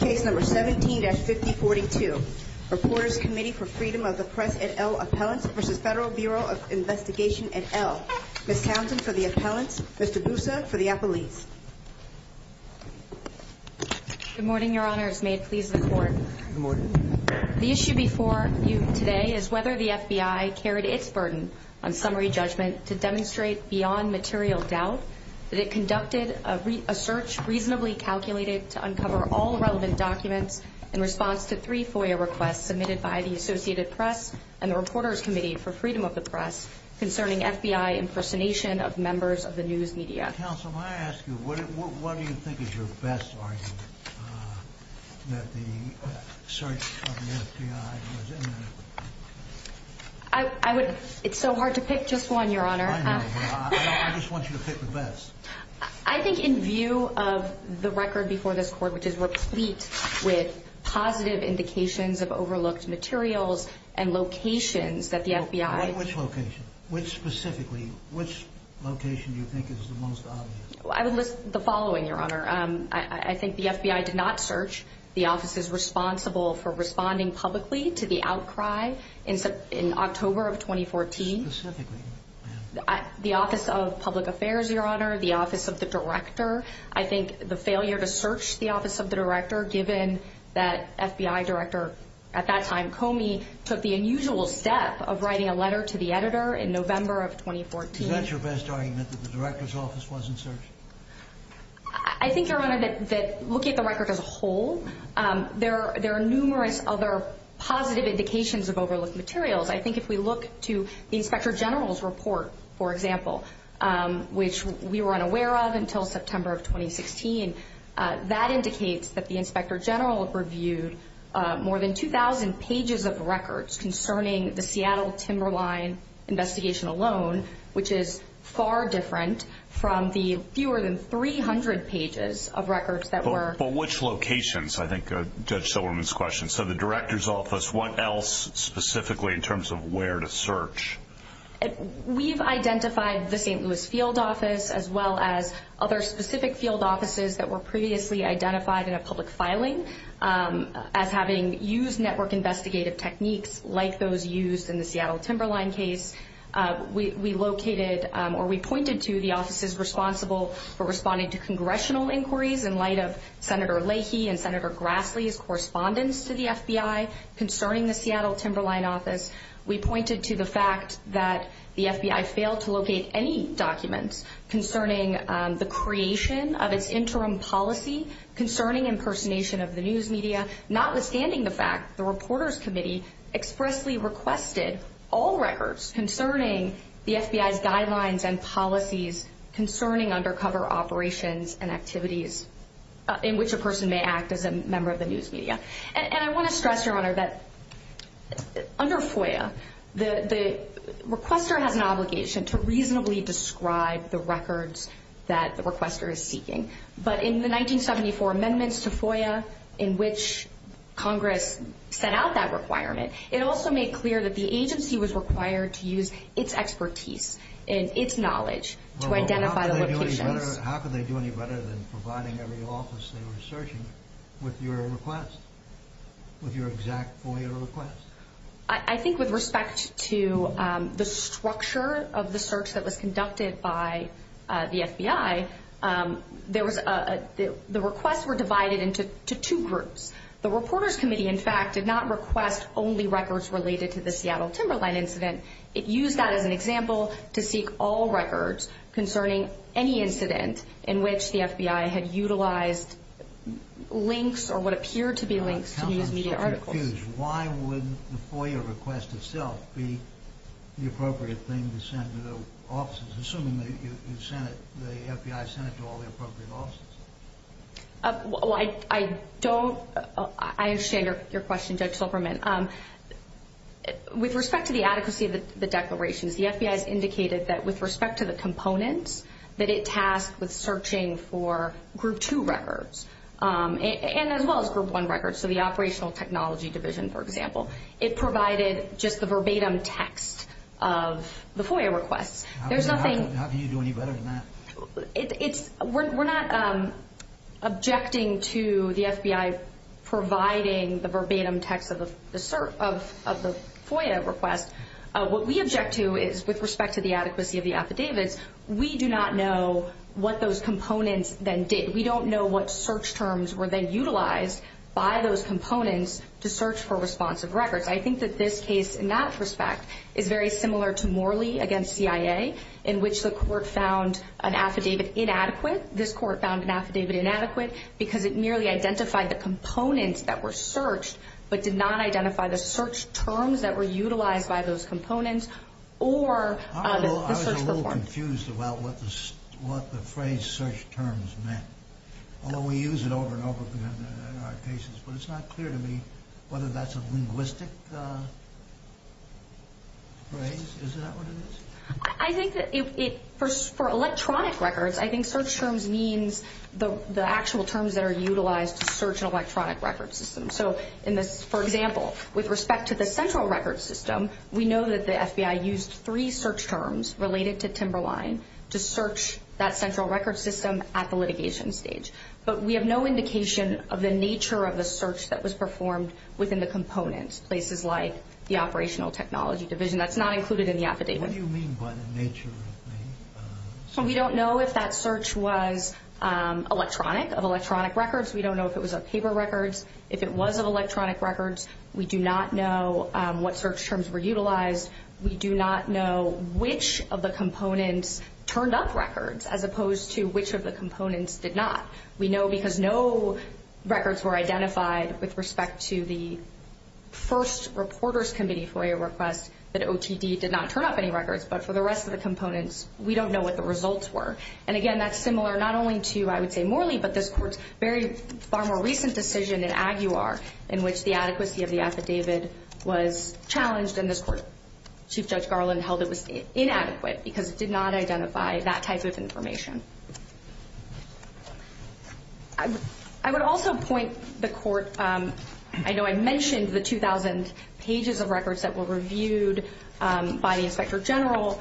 Case No. 17-5042. Reporters Committee for Freedom of the Press et al. Appellants v. Federal Bureau of Investigation et al. Ms. Townsend for the Appellants, Mr. Busa for the Appellees. Good morning, Your Honors. May it please the Court. Good morning. The issue before you today is whether the FBI carried its burden on summary judgment to demonstrate beyond material doubt that it conducted a search reasonably calculated to uncover all relevant documents in response to three FOIA requests submitted by the Associated Press and the Reporters Committee for Freedom of the Press concerning FBI impersonation of members of the news media. Counsel, may I ask you, what do you think is your best argument that the search of the FBI was inaccurate? It's so hard to pick just one, Your Honor. I know. I just want you to pick the best. I think in view of the record before this Court, which is replete with positive indications of overlooked materials and locations that the FBI... I would list the following, Your Honor. I think the FBI did not search the offices responsible for responding publicly to the outcry in October of 2014. Specifically? The Office of Public Affairs, Your Honor, the Office of the Director. I think the failure to search the Office of the Director, given that FBI Director at that time, Comey, took the unusual step of writing a letter to the editor in November of 2014. Is that your best argument, that the Director's Office wasn't searching? I think, Your Honor, that looking at the record as a whole, there are numerous other positive indications of overlooked materials. I think if we look to the Inspector General's report, for example, which we were unaware of until September of 2016, that indicates that the Inspector General reviewed more than 2,000 pages of records concerning the Seattle Timberline investigation alone, which is far different from the fewer than 300 pages of records that were... We've identified the St. Louis Field Office, as well as other specific field offices that were previously identified in a public filing, as having used network investigative techniques like those used in the Seattle Timberline case. We pointed to the offices responsible for responding to congressional inquiries in light of Senator Leahy and Senator Grassley's correspondence to the FBI concerning the Seattle Timberline office. We pointed to the fact that the FBI failed to locate any documents concerning the creation of its interim policy concerning impersonation of the news media, notwithstanding the fact the Reporters Committee expressly requested all records concerning the FBI's guidelines and policies concerning undercover operations and activities in which a person may act as a member of the news media. And I want to stress, Your Honor, that under FOIA, the requester has an obligation to reasonably describe the records that the requester is seeking. But in the 1974 amendments to FOIA in which Congress set out that requirement, it also made clear that the agency was required to use its expertise and its knowledge to identify the locations. How could they do any better than providing every office they were searching with your request? With your exact FOIA request? I think with respect to the structure of the search that was conducted by the FBI, the requests were divided into two groups. The Reporters Committee, in fact, did not request only records related to the Seattle Timberline incident. It used that as an example to seek all records concerning any incident in which the FBI had utilized links or what appeared to be links to news media articles. Why would the FOIA request itself be the appropriate thing to send to the offices, assuming the FBI sent it to all the appropriate offices? I understand your question, Judge Silberman. With respect to the adequacy of the declarations, the FBI has indicated that with respect to the components that it tasked with searching for Group 2 records, and as well as Group 1 records, so the Operational Technology Division, for example, it provided just the verbatim text of the FOIA requests. How can you do any better than that? We're not objecting to the FBI providing the verbatim text of the FOIA request. What we object to is, with respect to the adequacy of the affidavits, we do not know what those components then did. I was a little confused about what the phrase search terms meant, although we use it over and over in our cases, but it's not clear to me whether that's a linguistic phrase. Is that what it is? For electronic records, I think search terms means the actual terms that are utilized to search an electronic record system. For example, with respect to the central record system, we know that the FBI used three search terms related to Timberline to search that central record system at the litigation stage, but we have no indication of the nature of the search that was performed within the components, places like the Operational Technology Division. That's not included in the affidavit. What do you mean by the nature of the search? We don't know if that search was electronic, of electronic records. We don't know if it was of paper records. If it was of electronic records, we do not know what search terms were utilized. We do not know which of the components turned up records, as opposed to which of the components did not. We know because no records were identified with respect to the first reporter's committee FOIA request that OTD did not turn up any records, but for the rest of the components, we don't know what the results were. And again, that's similar not only to, I would say, Morley, but this Court's far more recent decision in Aguilar in which the adequacy of the affidavit was challenged, and this Court, Chief Judge Garland held it was inadequate because it did not identify that type of information. I would also point the Court, I know I mentioned the 2,000 pages of records that were reviewed by the Inspector General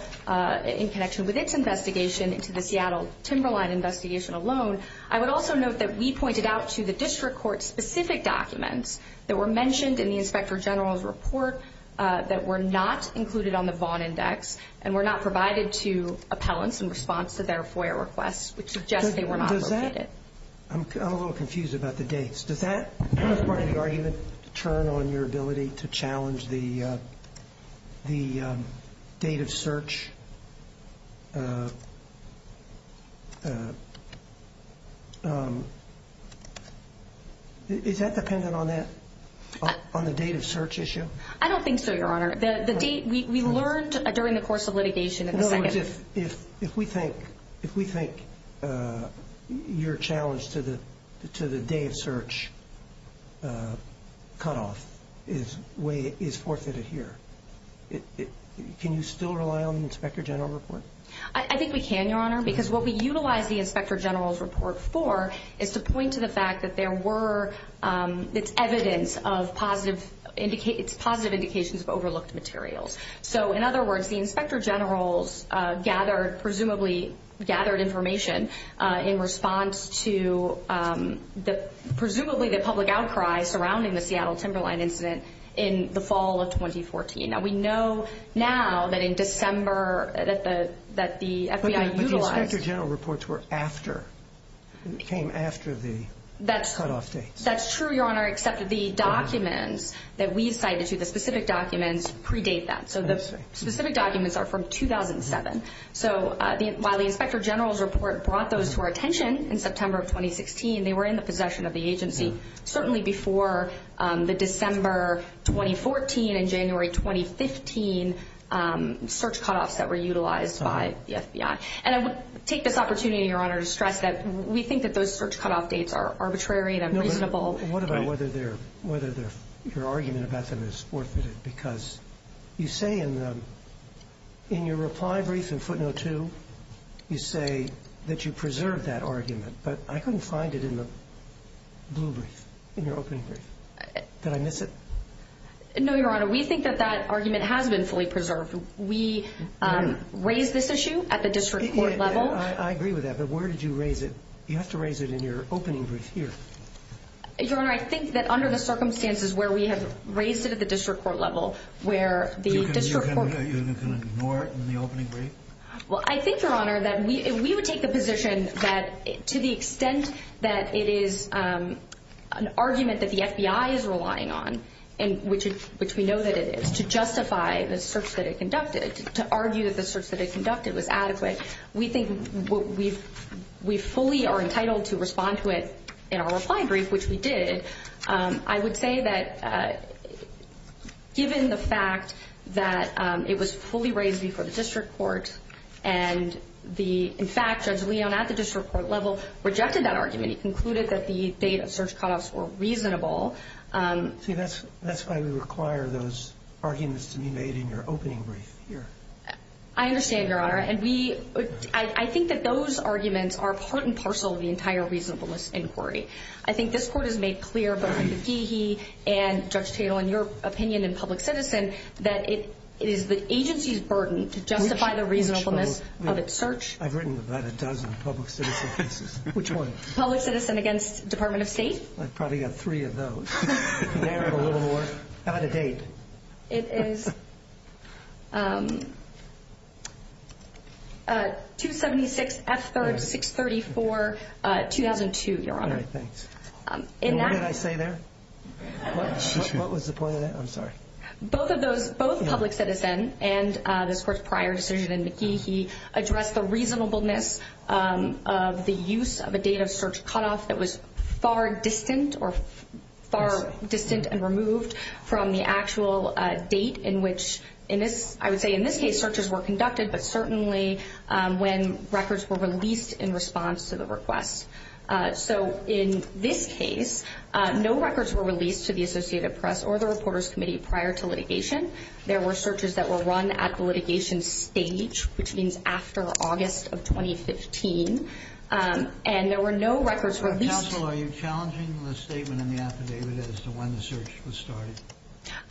in connection with its investigation into the Seattle Timberline investigation alone. I would also note that we pointed out to the District Court specific documents that were mentioned in the Inspector General's report that were not included on the Vaughn Index and were not provided to appellants in response to their FOIA requests, which suggests they were not located. I'm a little confused about the dates. Does that, as part of the argument, turn on your ability to challenge the date of search? Is that dependent on that, on the date of search issue? I don't think so, Your Honor. The date, we learned during the course of litigation in the second. If we think your challenge to the date of search cutoff is forfeited here, can you still rely on the Inspector General report? I think we can, Your Honor, because what we utilize the Inspector General's report for is to point to the fact that there were, it's evidence of positive, it's positive indications of overlooked materials. So, in other words, the Inspector General's gathered, presumably gathered information in response to the, presumably the public outcry surrounding the Seattle Timberline incident in the fall of 2014. Now, we know now that in December, that the FBI utilized... But the Inspector General reports were after, came after the cutoff dates. That's true, Your Honor, except the documents that we cited to, the specific documents, predate that. So, the specific documents are from 2007. So, while the Inspector General's report brought those to our attention in September of 2016, they were in the possession of the agency, certainly before the December 2014 and January 2015 search cutoffs that were utilized by the FBI. And I would take this opportunity, Your Honor, to stress that we think that those search cutoff dates are arbitrary and unreasonable. What about whether they're, whether your argument about them is worth it? Because you say in the, in your reply brief in footnote two, you say that you preserved that argument, but I couldn't find it in the blue brief, in your opening brief. Did I miss it? No, Your Honor, we think that that argument has been fully preserved. We raised this issue at the district court level. I agree with that, but where did you raise it? You have to raise it in your opening brief here. Your Honor, I think that under the circumstances where we have raised it at the district court level, where the district court... You can ignore it in the opening brief? Well, I think, Your Honor, that we would take the position that to the extent that it is an argument that the FBI is relying on, which we know that it is, to justify the search that it conducted, to argue that the search that it conducted was adequate, we think we fully are entitled to respond to it in our reply brief, which we did. I would say that given the fact that it was fully raised before the district court and the, in fact, Judge Leon at the district court level rejected that argument. He concluded that the date of search cutoffs were reasonable. See, that's why we require those arguments to be made in your opening brief here. I understand, Your Honor, and I think that those arguments are part and parcel of the entire reasonableness inquiry. I think this court has made clear, both in the GE and Judge Tatel, in your opinion in public citizen, that it is the agency's burden to justify the reasonableness of its search. I've written about a dozen public citizen cases. Which one? Public citizen against Department of State. I've probably got three of those. How about a date? It is 2-76-F-3-6-34-2002, Your Honor. All right, thanks. What did I say there? What was the point of that? I'm sorry. Both of those, both public citizen and this court's prior decision in the GE, he addressed the reasonableness of the use of a date of search cutoff that was far distant or far distant and removed from the actual date in which, in this, I would say in this case, searches were conducted, but certainly when records were released in response to the request. So in this case, no records were released to the Associated Press or the Reporters Committee prior to litigation. There were searches that were run at the litigation stage, which means after August of 2015, and there were no records released. Counsel, are you challenging the statement in the affidavit as to when the search was started?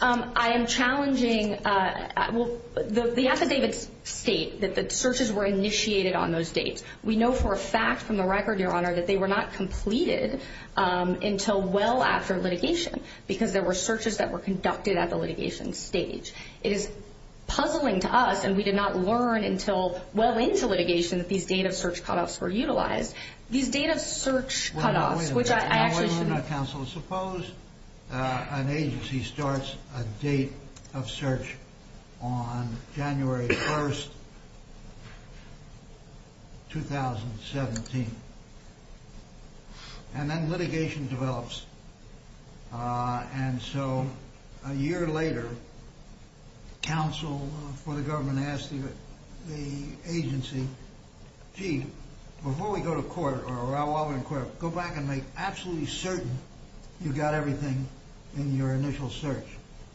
I am challenging, well, the affidavits state that the searches were initiated on those dates. We know for a fact from the record, Your Honor, that they were not completed until well after litigation because there were searches that were conducted at the litigation stage. It is puzzling to us, and we did not learn until well into litigation that these date of search cutoffs were utilized. These date of search cutoffs, which I actually should— An agency starts a date of search on January 1st, 2017, and then litigation develops. And so a year later, counsel for the government asked the agency, gee, before we go to court or while we're in court, go back and make absolutely certain you got everything in your initial search.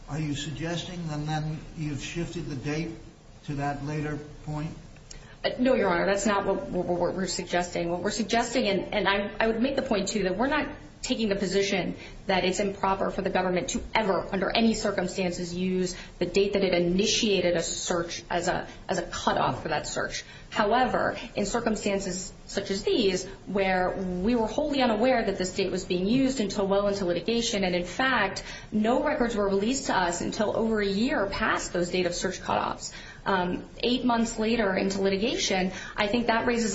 Are you suggesting that then you've shifted the date to that later point? No, Your Honor, that's not what we're suggesting. What we're suggesting, and I would make the point, too, that we're not taking the position that it's improper for the government to ever under any circumstances use the date that it initiated a search as a cutoff for that search. However, in circumstances such as these where we were wholly unaware that this date was being used until well into litigation, and, in fact, no records were released to us until over a year past those date of search cutoffs. Eight months later into litigation, I think that raises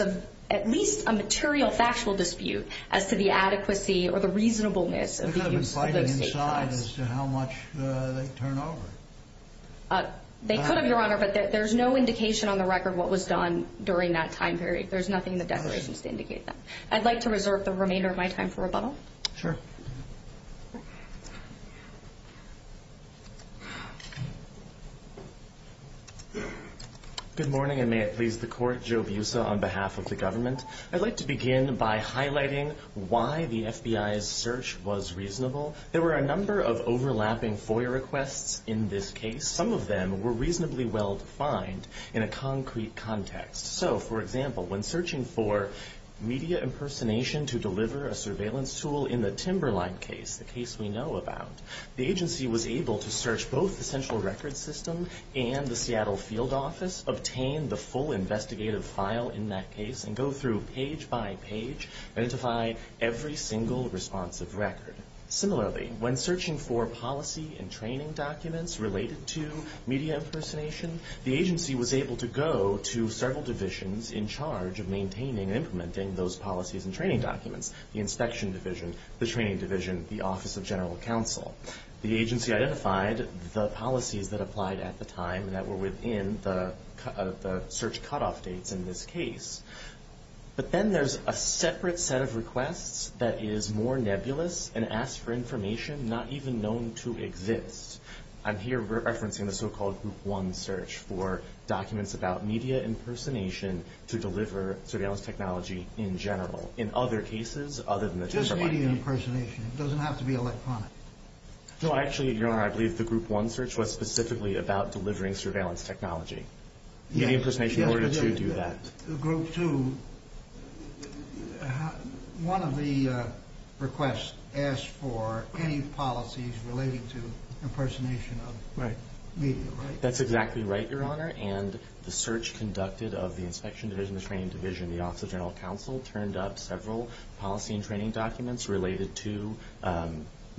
at least a material factual dispute as to the adequacy or the reasonableness of the use of those date cuts. They could have been fighting inside as to how much they turned over. They could have, Your Honor, but there's no indication on the record what was done during that time period. There's nothing in the declarations to indicate that. I'd like to reserve the remainder of my time for rebuttal. Sure. Good morning, and may it please the Court. Joe Busa on behalf of the government. I'd like to begin by highlighting why the FBI's search was reasonable. There were a number of overlapping FOIA requests in this case. Some of them were reasonably well defined in a concrete context. So, for example, when searching for media impersonation to deliver a surveillance tool in the Timberline case, the case we know about, the agency was able to search both the Central Records System and the Seattle Field Office, obtain the full investigative file in that case, and go through page by page, identify every single responsive record. Similarly, when searching for policy and training documents related to media impersonation, the agency was able to go to several divisions in charge of maintaining and implementing those policies and training documents, the inspection division, the training division, the Office of General Counsel. The agency identified the policies that applied at the time that were within the search cutoff dates in this case. But then there's a separate set of requests that is more nebulous and asks for information not even known to exist. I'm here referencing the so-called Group 1 search for documents about media impersonation to deliver surveillance technology in general. In other cases, other than the Timberline case. Just media impersonation. It doesn't have to be electronic. No, actually, Your Honor, I believe the Group 1 search was specifically about delivering surveillance technology. Media impersonation in order to do that. Group 2, one of the requests asked for any policies relating to impersonation of media, right? That's exactly right, Your Honor. And the search conducted of the inspection division, the training division, the Office of General Counsel, turned up several policy and training documents related to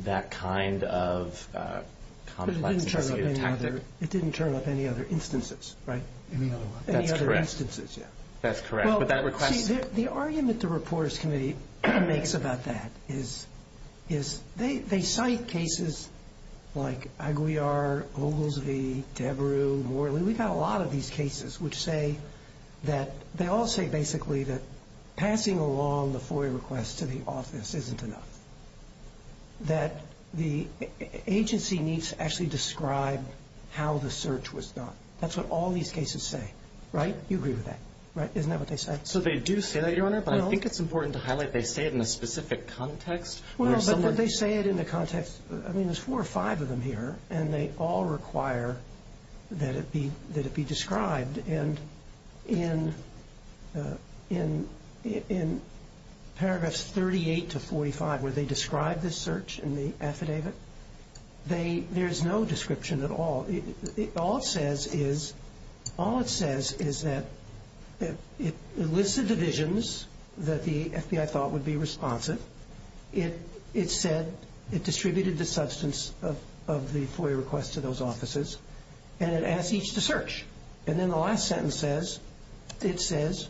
that kind of complex investigative tactic. It didn't turn up any other instances, right? That's correct. Any other instances, yeah. That's correct. Well, see, the argument the Reporters Committee makes about that is they cite cases like Aguiar, Oglesby, Debrew, Morley. And we've got a lot of these cases which say that they all say basically that passing along the FOIA request to the office isn't enough. That the agency needs to actually describe how the search was done. That's what all these cases say, right? You agree with that, right? Isn't that what they say? So they do say that, Your Honor, but I think it's important to highlight they say it in a specific context. Well, but they say it in the context, I mean, there's four or five of them here, and they all require that it be described. And in paragraphs 38 to 45 where they describe the search and the affidavit, there's no description at all. All it says is that it lists the divisions that the FBI thought would be responsive. It said it distributed the substance of the FOIA request to those offices, and it asked each to search. And then the last sentence says, it says,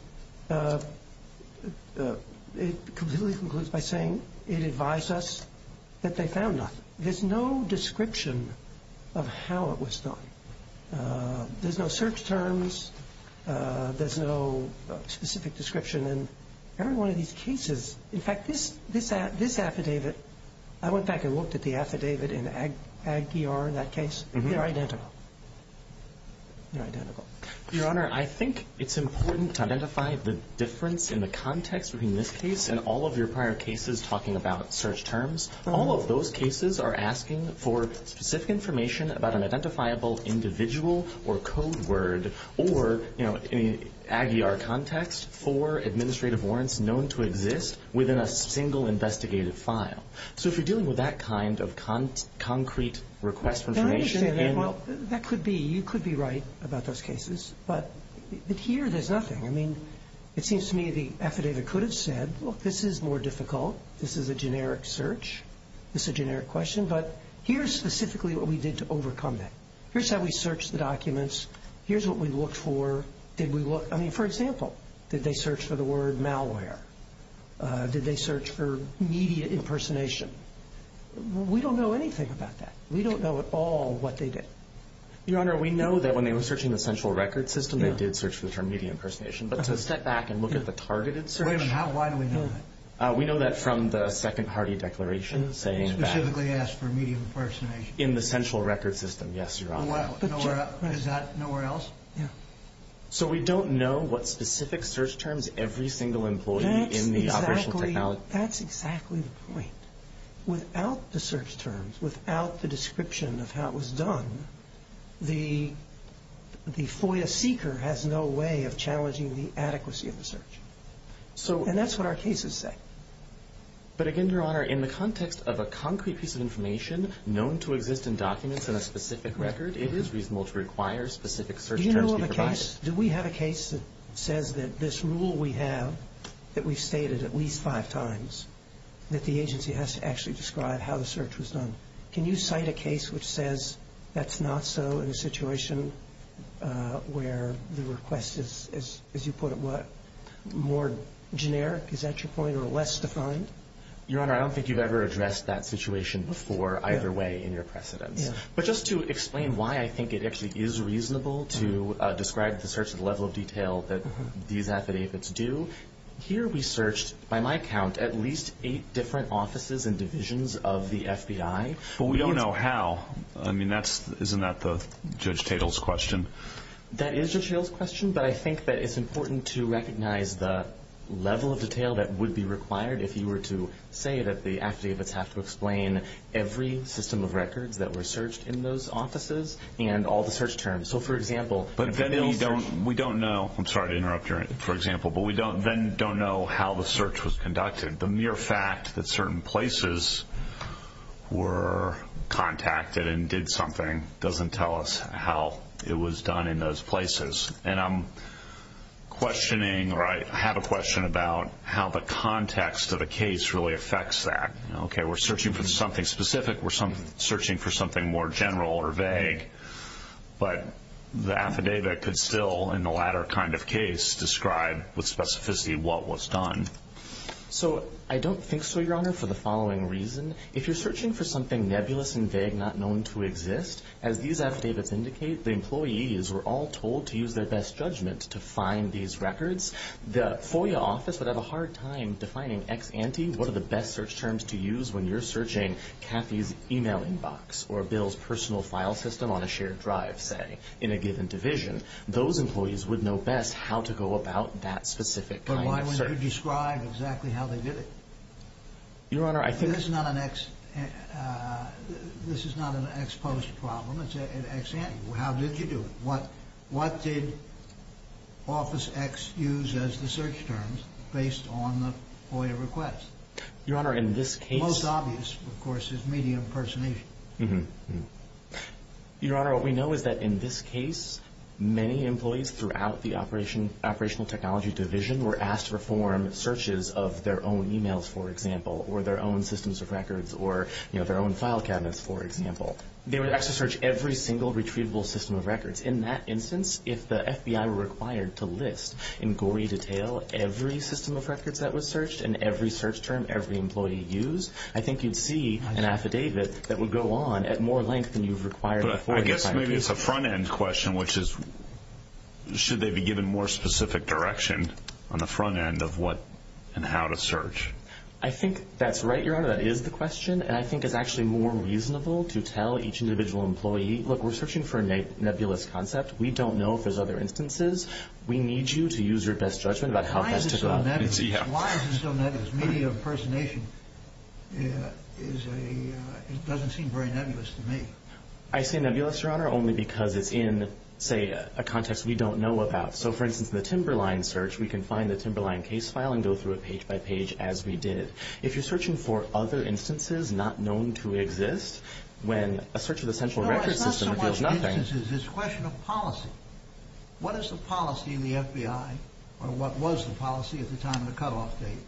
it completely concludes by saying it advised us that they found nothing. There's no description of how it was done. There's no search terms. There's no specific description. And every one of these cases, in fact, this affidavit, I went back and looked at the affidavit in the Ag ER in that case. They're identical. They're identical. Your Honor, I think it's important to identify the difference in the context between this case and all of your prior cases talking about search terms. All of those cases are asking for specific information about an identifiable individual or code word or, you know, in an Ag ER context, for administrative warrants known to exist within a single investigative file. So if you're dealing with that kind of concrete request for information in the... I understand that. Well, that could be. You could be right about those cases. But here there's nothing. I mean, it seems to me the affidavit could have said, look, this is more difficult. This is a generic search. This is a generic question. But here's specifically what we did to overcome that. Here's how we searched the documents. Here's what we looked for. I mean, for example, did they search for the word malware? Did they search for media impersonation? We don't know anything about that. We don't know at all what they did. Your Honor, we know that when they were searching the central record system, they did search for the term media impersonation. But to step back and look at the targeted search... Wait a minute. Why do we know that? We know that from the second party declaration saying that... Specifically asked for media impersonation. In the central record system, yes, Your Honor. Is that nowhere else? Yeah. So we don't know what specific search terms every single employee in the operational technology... That's exactly the point. Without the search terms, without the description of how it was done, the FOIA seeker has no way of challenging the adequacy of the search. And that's what our cases say. But again, Your Honor, in the context of a concrete piece of information known to exist in documents in a specific record, it is reasonable to require specific search terms to be provided. Do we have a case that says that this rule we have, that we've stated at least five times, that the agency has to actually describe how the search was done? Can you cite a case which says that's not so in a situation where the request is, as you put it, more generic, is that your point, or less defined? Your Honor, I don't think you've ever addressed that situation before either way in your precedence. But just to explain why I think it actually is reasonable to describe the search at the level of detail that these affidavits do, here we searched, by my count, at least eight different offices and divisions of the FBI. But we don't know how. I mean, isn't that Judge Tatel's question? That is Judge Tatel's question, but I think that it's important to recognize the level of detail that would be required if you were to say that the affidavits have to explain every system of records that were searched in those offices and all the search terms. So, for example... But then we don't know. I'm sorry to interrupt, Your Honor, for example, but we then don't know how the search was conducted. The mere fact that certain places were contacted and did something doesn't tell us how it was done in those places. And I'm questioning, or I have a question about, how the context of a case really affects that. Okay, we're searching for something specific, we're searching for something more general or vague, but the affidavit could still, in the latter kind of case, describe with specificity what was done. So, I don't think so, Your Honor, for the following reason. If you're searching for something nebulous and vague, not known to exist, as these affidavits indicate, the employees were all told to use their best judgment to find these records. The FOIA office would have a hard time defining ex ante, what are the best search terms to use when you're searching Kathy's email inbox or Bill's personal file system on a shared drive, say, in a given division. Those employees would know best how to go about that specific kind of search. But why wouldn't you describe exactly how they did it? Your Honor, I think... This is not an ex post problem, it's an ex ante. How did you do it? What did Office X use as the search terms based on the FOIA request? Your Honor, in this case... Most obvious, of course, is media impersonation. Mm-hmm. Your Honor, what we know is that in this case, many employees throughout the operational technology division were asked to perform searches of their own emails, for example, or their own systems of records, or their own file cabinets, for example. They were asked to search every single retrievable system of records. In that instance, if the FBI were required to list in gory detail every system of records that was searched and every search term every employee used, I think you'd see an affidavit that would go on at more length than you've required... But I guess maybe it's a front-end question, which is should they be given more specific direction on the front end of what and how to search. I think that's right, Your Honor. That is the question. And I think it's actually more reasonable to tell each individual employee, look, we're searching for a nebulous concept. We don't know if there's other instances. We need you to use your best judgment about how best to... Why is it so nebulous? Why is it so nebulous? Media impersonation is a... It doesn't seem very nebulous to me. I say nebulous, Your Honor, only because it's in, say, a context we don't know about. So, for instance, the Timberline search, we can find the Timberline case file and go through it page by page as we did. If you're searching for other instances not known to exist, when a search of the central records system reveals nothing... No, it's not so much instances. It's a question of policy. What is the policy in the FBI, or what was the policy at the time of the cutoff date,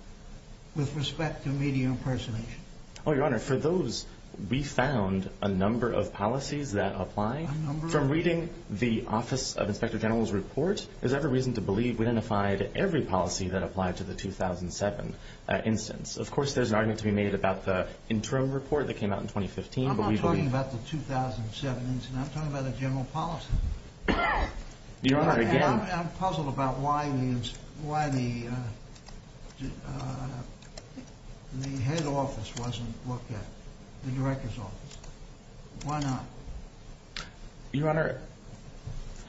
with respect to media impersonation? Oh, Your Honor, for those, we found a number of policies that apply. From reading the Office of Inspector General's report, there's every reason to believe we identified every policy that applied to the 2007 instance. Of course, there's an argument to be made about the interim report that came out in 2015. I'm not talking about the 2007 instance. I'm talking about the general policy. Your Honor, again... I'm puzzled about why the head office wasn't looked at, the director's office. Why not? Your Honor,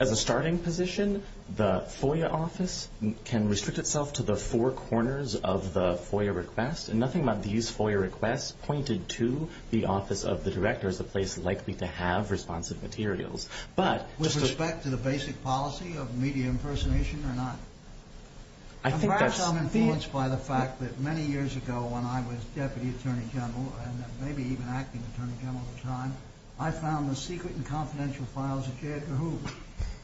as a starting position, the FOIA office can restrict itself to the four corners of the FOIA request, and nothing about these FOIA requests pointed to the office of the director as a place likely to have responsive materials. With respect to the basic policy of media impersonation or not? I think that's... Perhaps I'm influenced by the fact that many years ago, when I was deputy attorney general, and maybe even acting attorney general at the time, I found the secret and confidential files of J. Edgar Hoover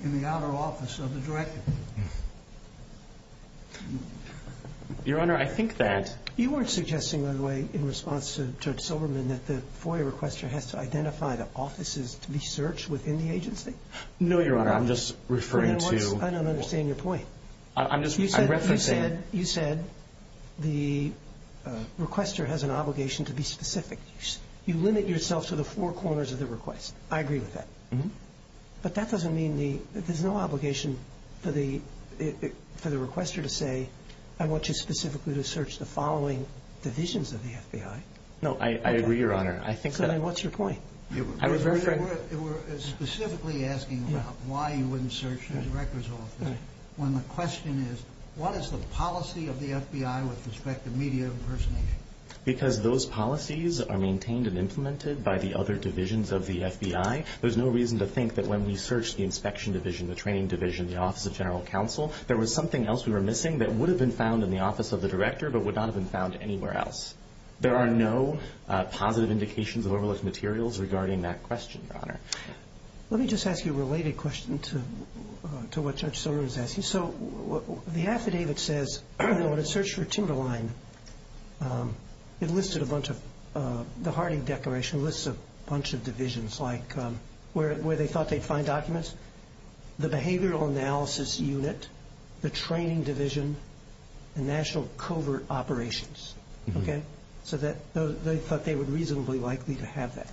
in the outer office of the director. Your Honor, I think that... You weren't suggesting, by the way, in response to Judge Silberman, that the FOIA requester has to identify the offices to be searched within the agency? No, Your Honor, I'm just referring to... I don't understand your point. I'm just referencing... You said the requester has an obligation to be specific. You limit yourself to the four corners of the request. I agree with that. But that doesn't mean there's no obligation for the requester to say, I want you specifically to search the following divisions of the FBI. No, I agree, Your Honor. Then what's your point? I was very... You were specifically asking about why you wouldn't search the director's office when the question is, what is the policy of the FBI with respect to media impersonation? Because those policies are maintained and implemented by the other divisions of the FBI. There's no reason to think that when we searched the inspection division, the training division, the office of general counsel, there was something else we were missing that would have been found in the office of the director but would not have been found anywhere else. There are no positive indications of overlooked materials regarding that question, Your Honor. Let me just ask you a related question to what Judge Silberman is asking. So the affidavit says that when it searched for TinderLine, it listed a bunch of the Harding Declaration, lists a bunch of divisions like where they thought they'd find documents, the behavioral analysis unit, the training division, and national covert operations. So they thought they were reasonably likely to have that.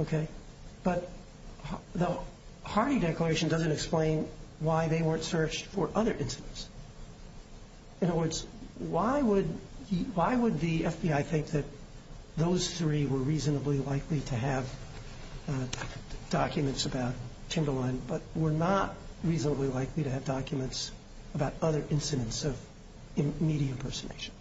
Okay. But the Harding Declaration doesn't explain why they weren't searched for other incidents. In other words, why would the FBI think that those three were reasonably likely to have documents about TinderLine but were not reasonably likely to have documents about other incidents of media impersonation?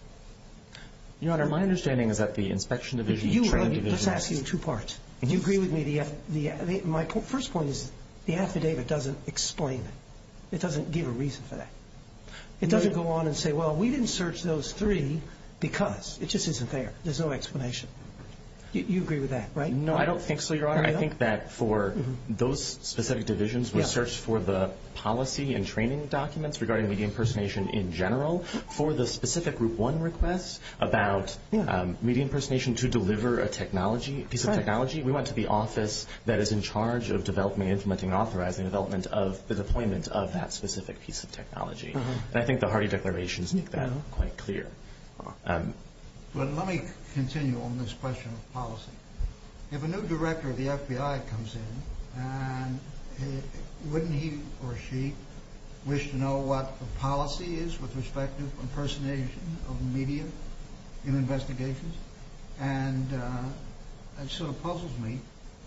Your Honor, my understanding is that the inspection division, training division— I'm going to ask you two parts. Do you agree with me? My first point is the affidavit doesn't explain it. It doesn't give a reason for that. It doesn't go on and say, well, we didn't search those three because. It just isn't there. There's no explanation. You agree with that, right? No, I don't think so, Your Honor. I think that for those specific divisions, we searched for the policy and training documents regarding media impersonation in general for the specific Group 1 requests about media impersonation to deliver a piece of technology. We went to the office that is in charge of developing, implementing, authorizing the development of the deployment of that specific piece of technology. And I think the Harding Declaration makes that quite clear. Well, let me continue on this question of policy. If a new director of the FBI comes in, wouldn't he or she wish to know what the policy is with respect to impersonation of media in investigations? And it sort of puzzles me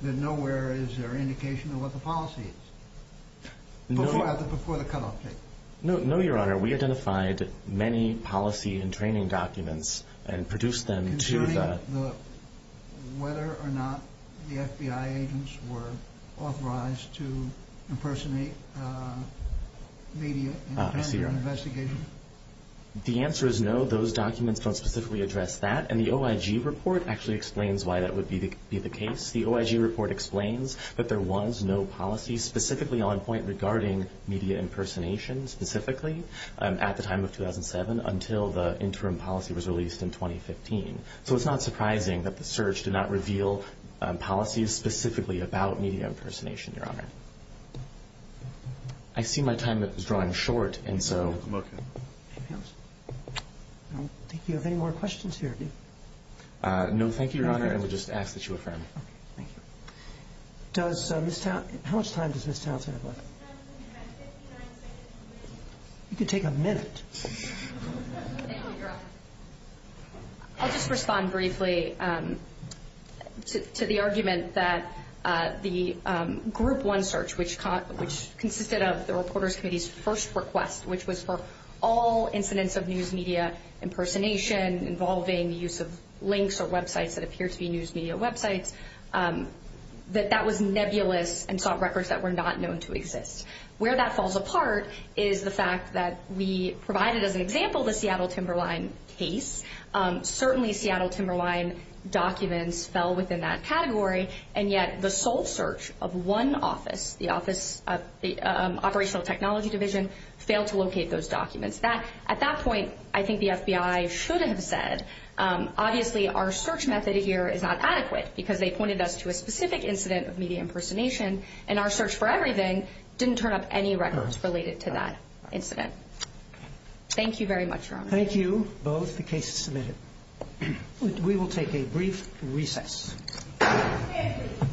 that nowhere is there indication of what the policy is before the cutoff date. No, Your Honor. We identified many policy and training documents and produced them to the... to impersonate media in an investigation. The answer is no. Those documents don't specifically address that. And the OIG report actually explains why that would be the case. The OIG report explains that there was no policy specifically on point regarding media impersonation specifically at the time of 2007 until the interim policy was released in 2015. So it's not surprising that the search did not reveal policies specifically about media impersonation, Your Honor. I see my time is drawing short, and so... I don't think you have any more questions here, do you? No, thank you, Your Honor. I would just ask that you affirm. Okay, thank you. Does Ms. Townsend... how much time does Ms. Townsend have left? Ms. Townsend has 59 seconds remaining. You can take a minute. Thank you, Your Honor. I'll just respond briefly to the argument that the Group 1 search, which consisted of the Reporters Committee's first request, which was for all incidents of news media impersonation involving the use of links or websites that appear to be news media websites, that that was nebulous and sought records that were not known to exist. Where that falls apart is the fact that we provided as an example the Seattle Timberline case. Certainly Seattle Timberline documents fell within that category, and yet the sole search of one office, the Office of the Operational Technology Division, failed to locate those documents. At that point, I think the FBI should have said, obviously our search method here is not adequate because they pointed us to a specific incident of media impersonation, and our search for everything didn't turn up any records related to that incident. Thank you very much, Your Honor. Thank you, both the cases submitted. We will take a brief recess.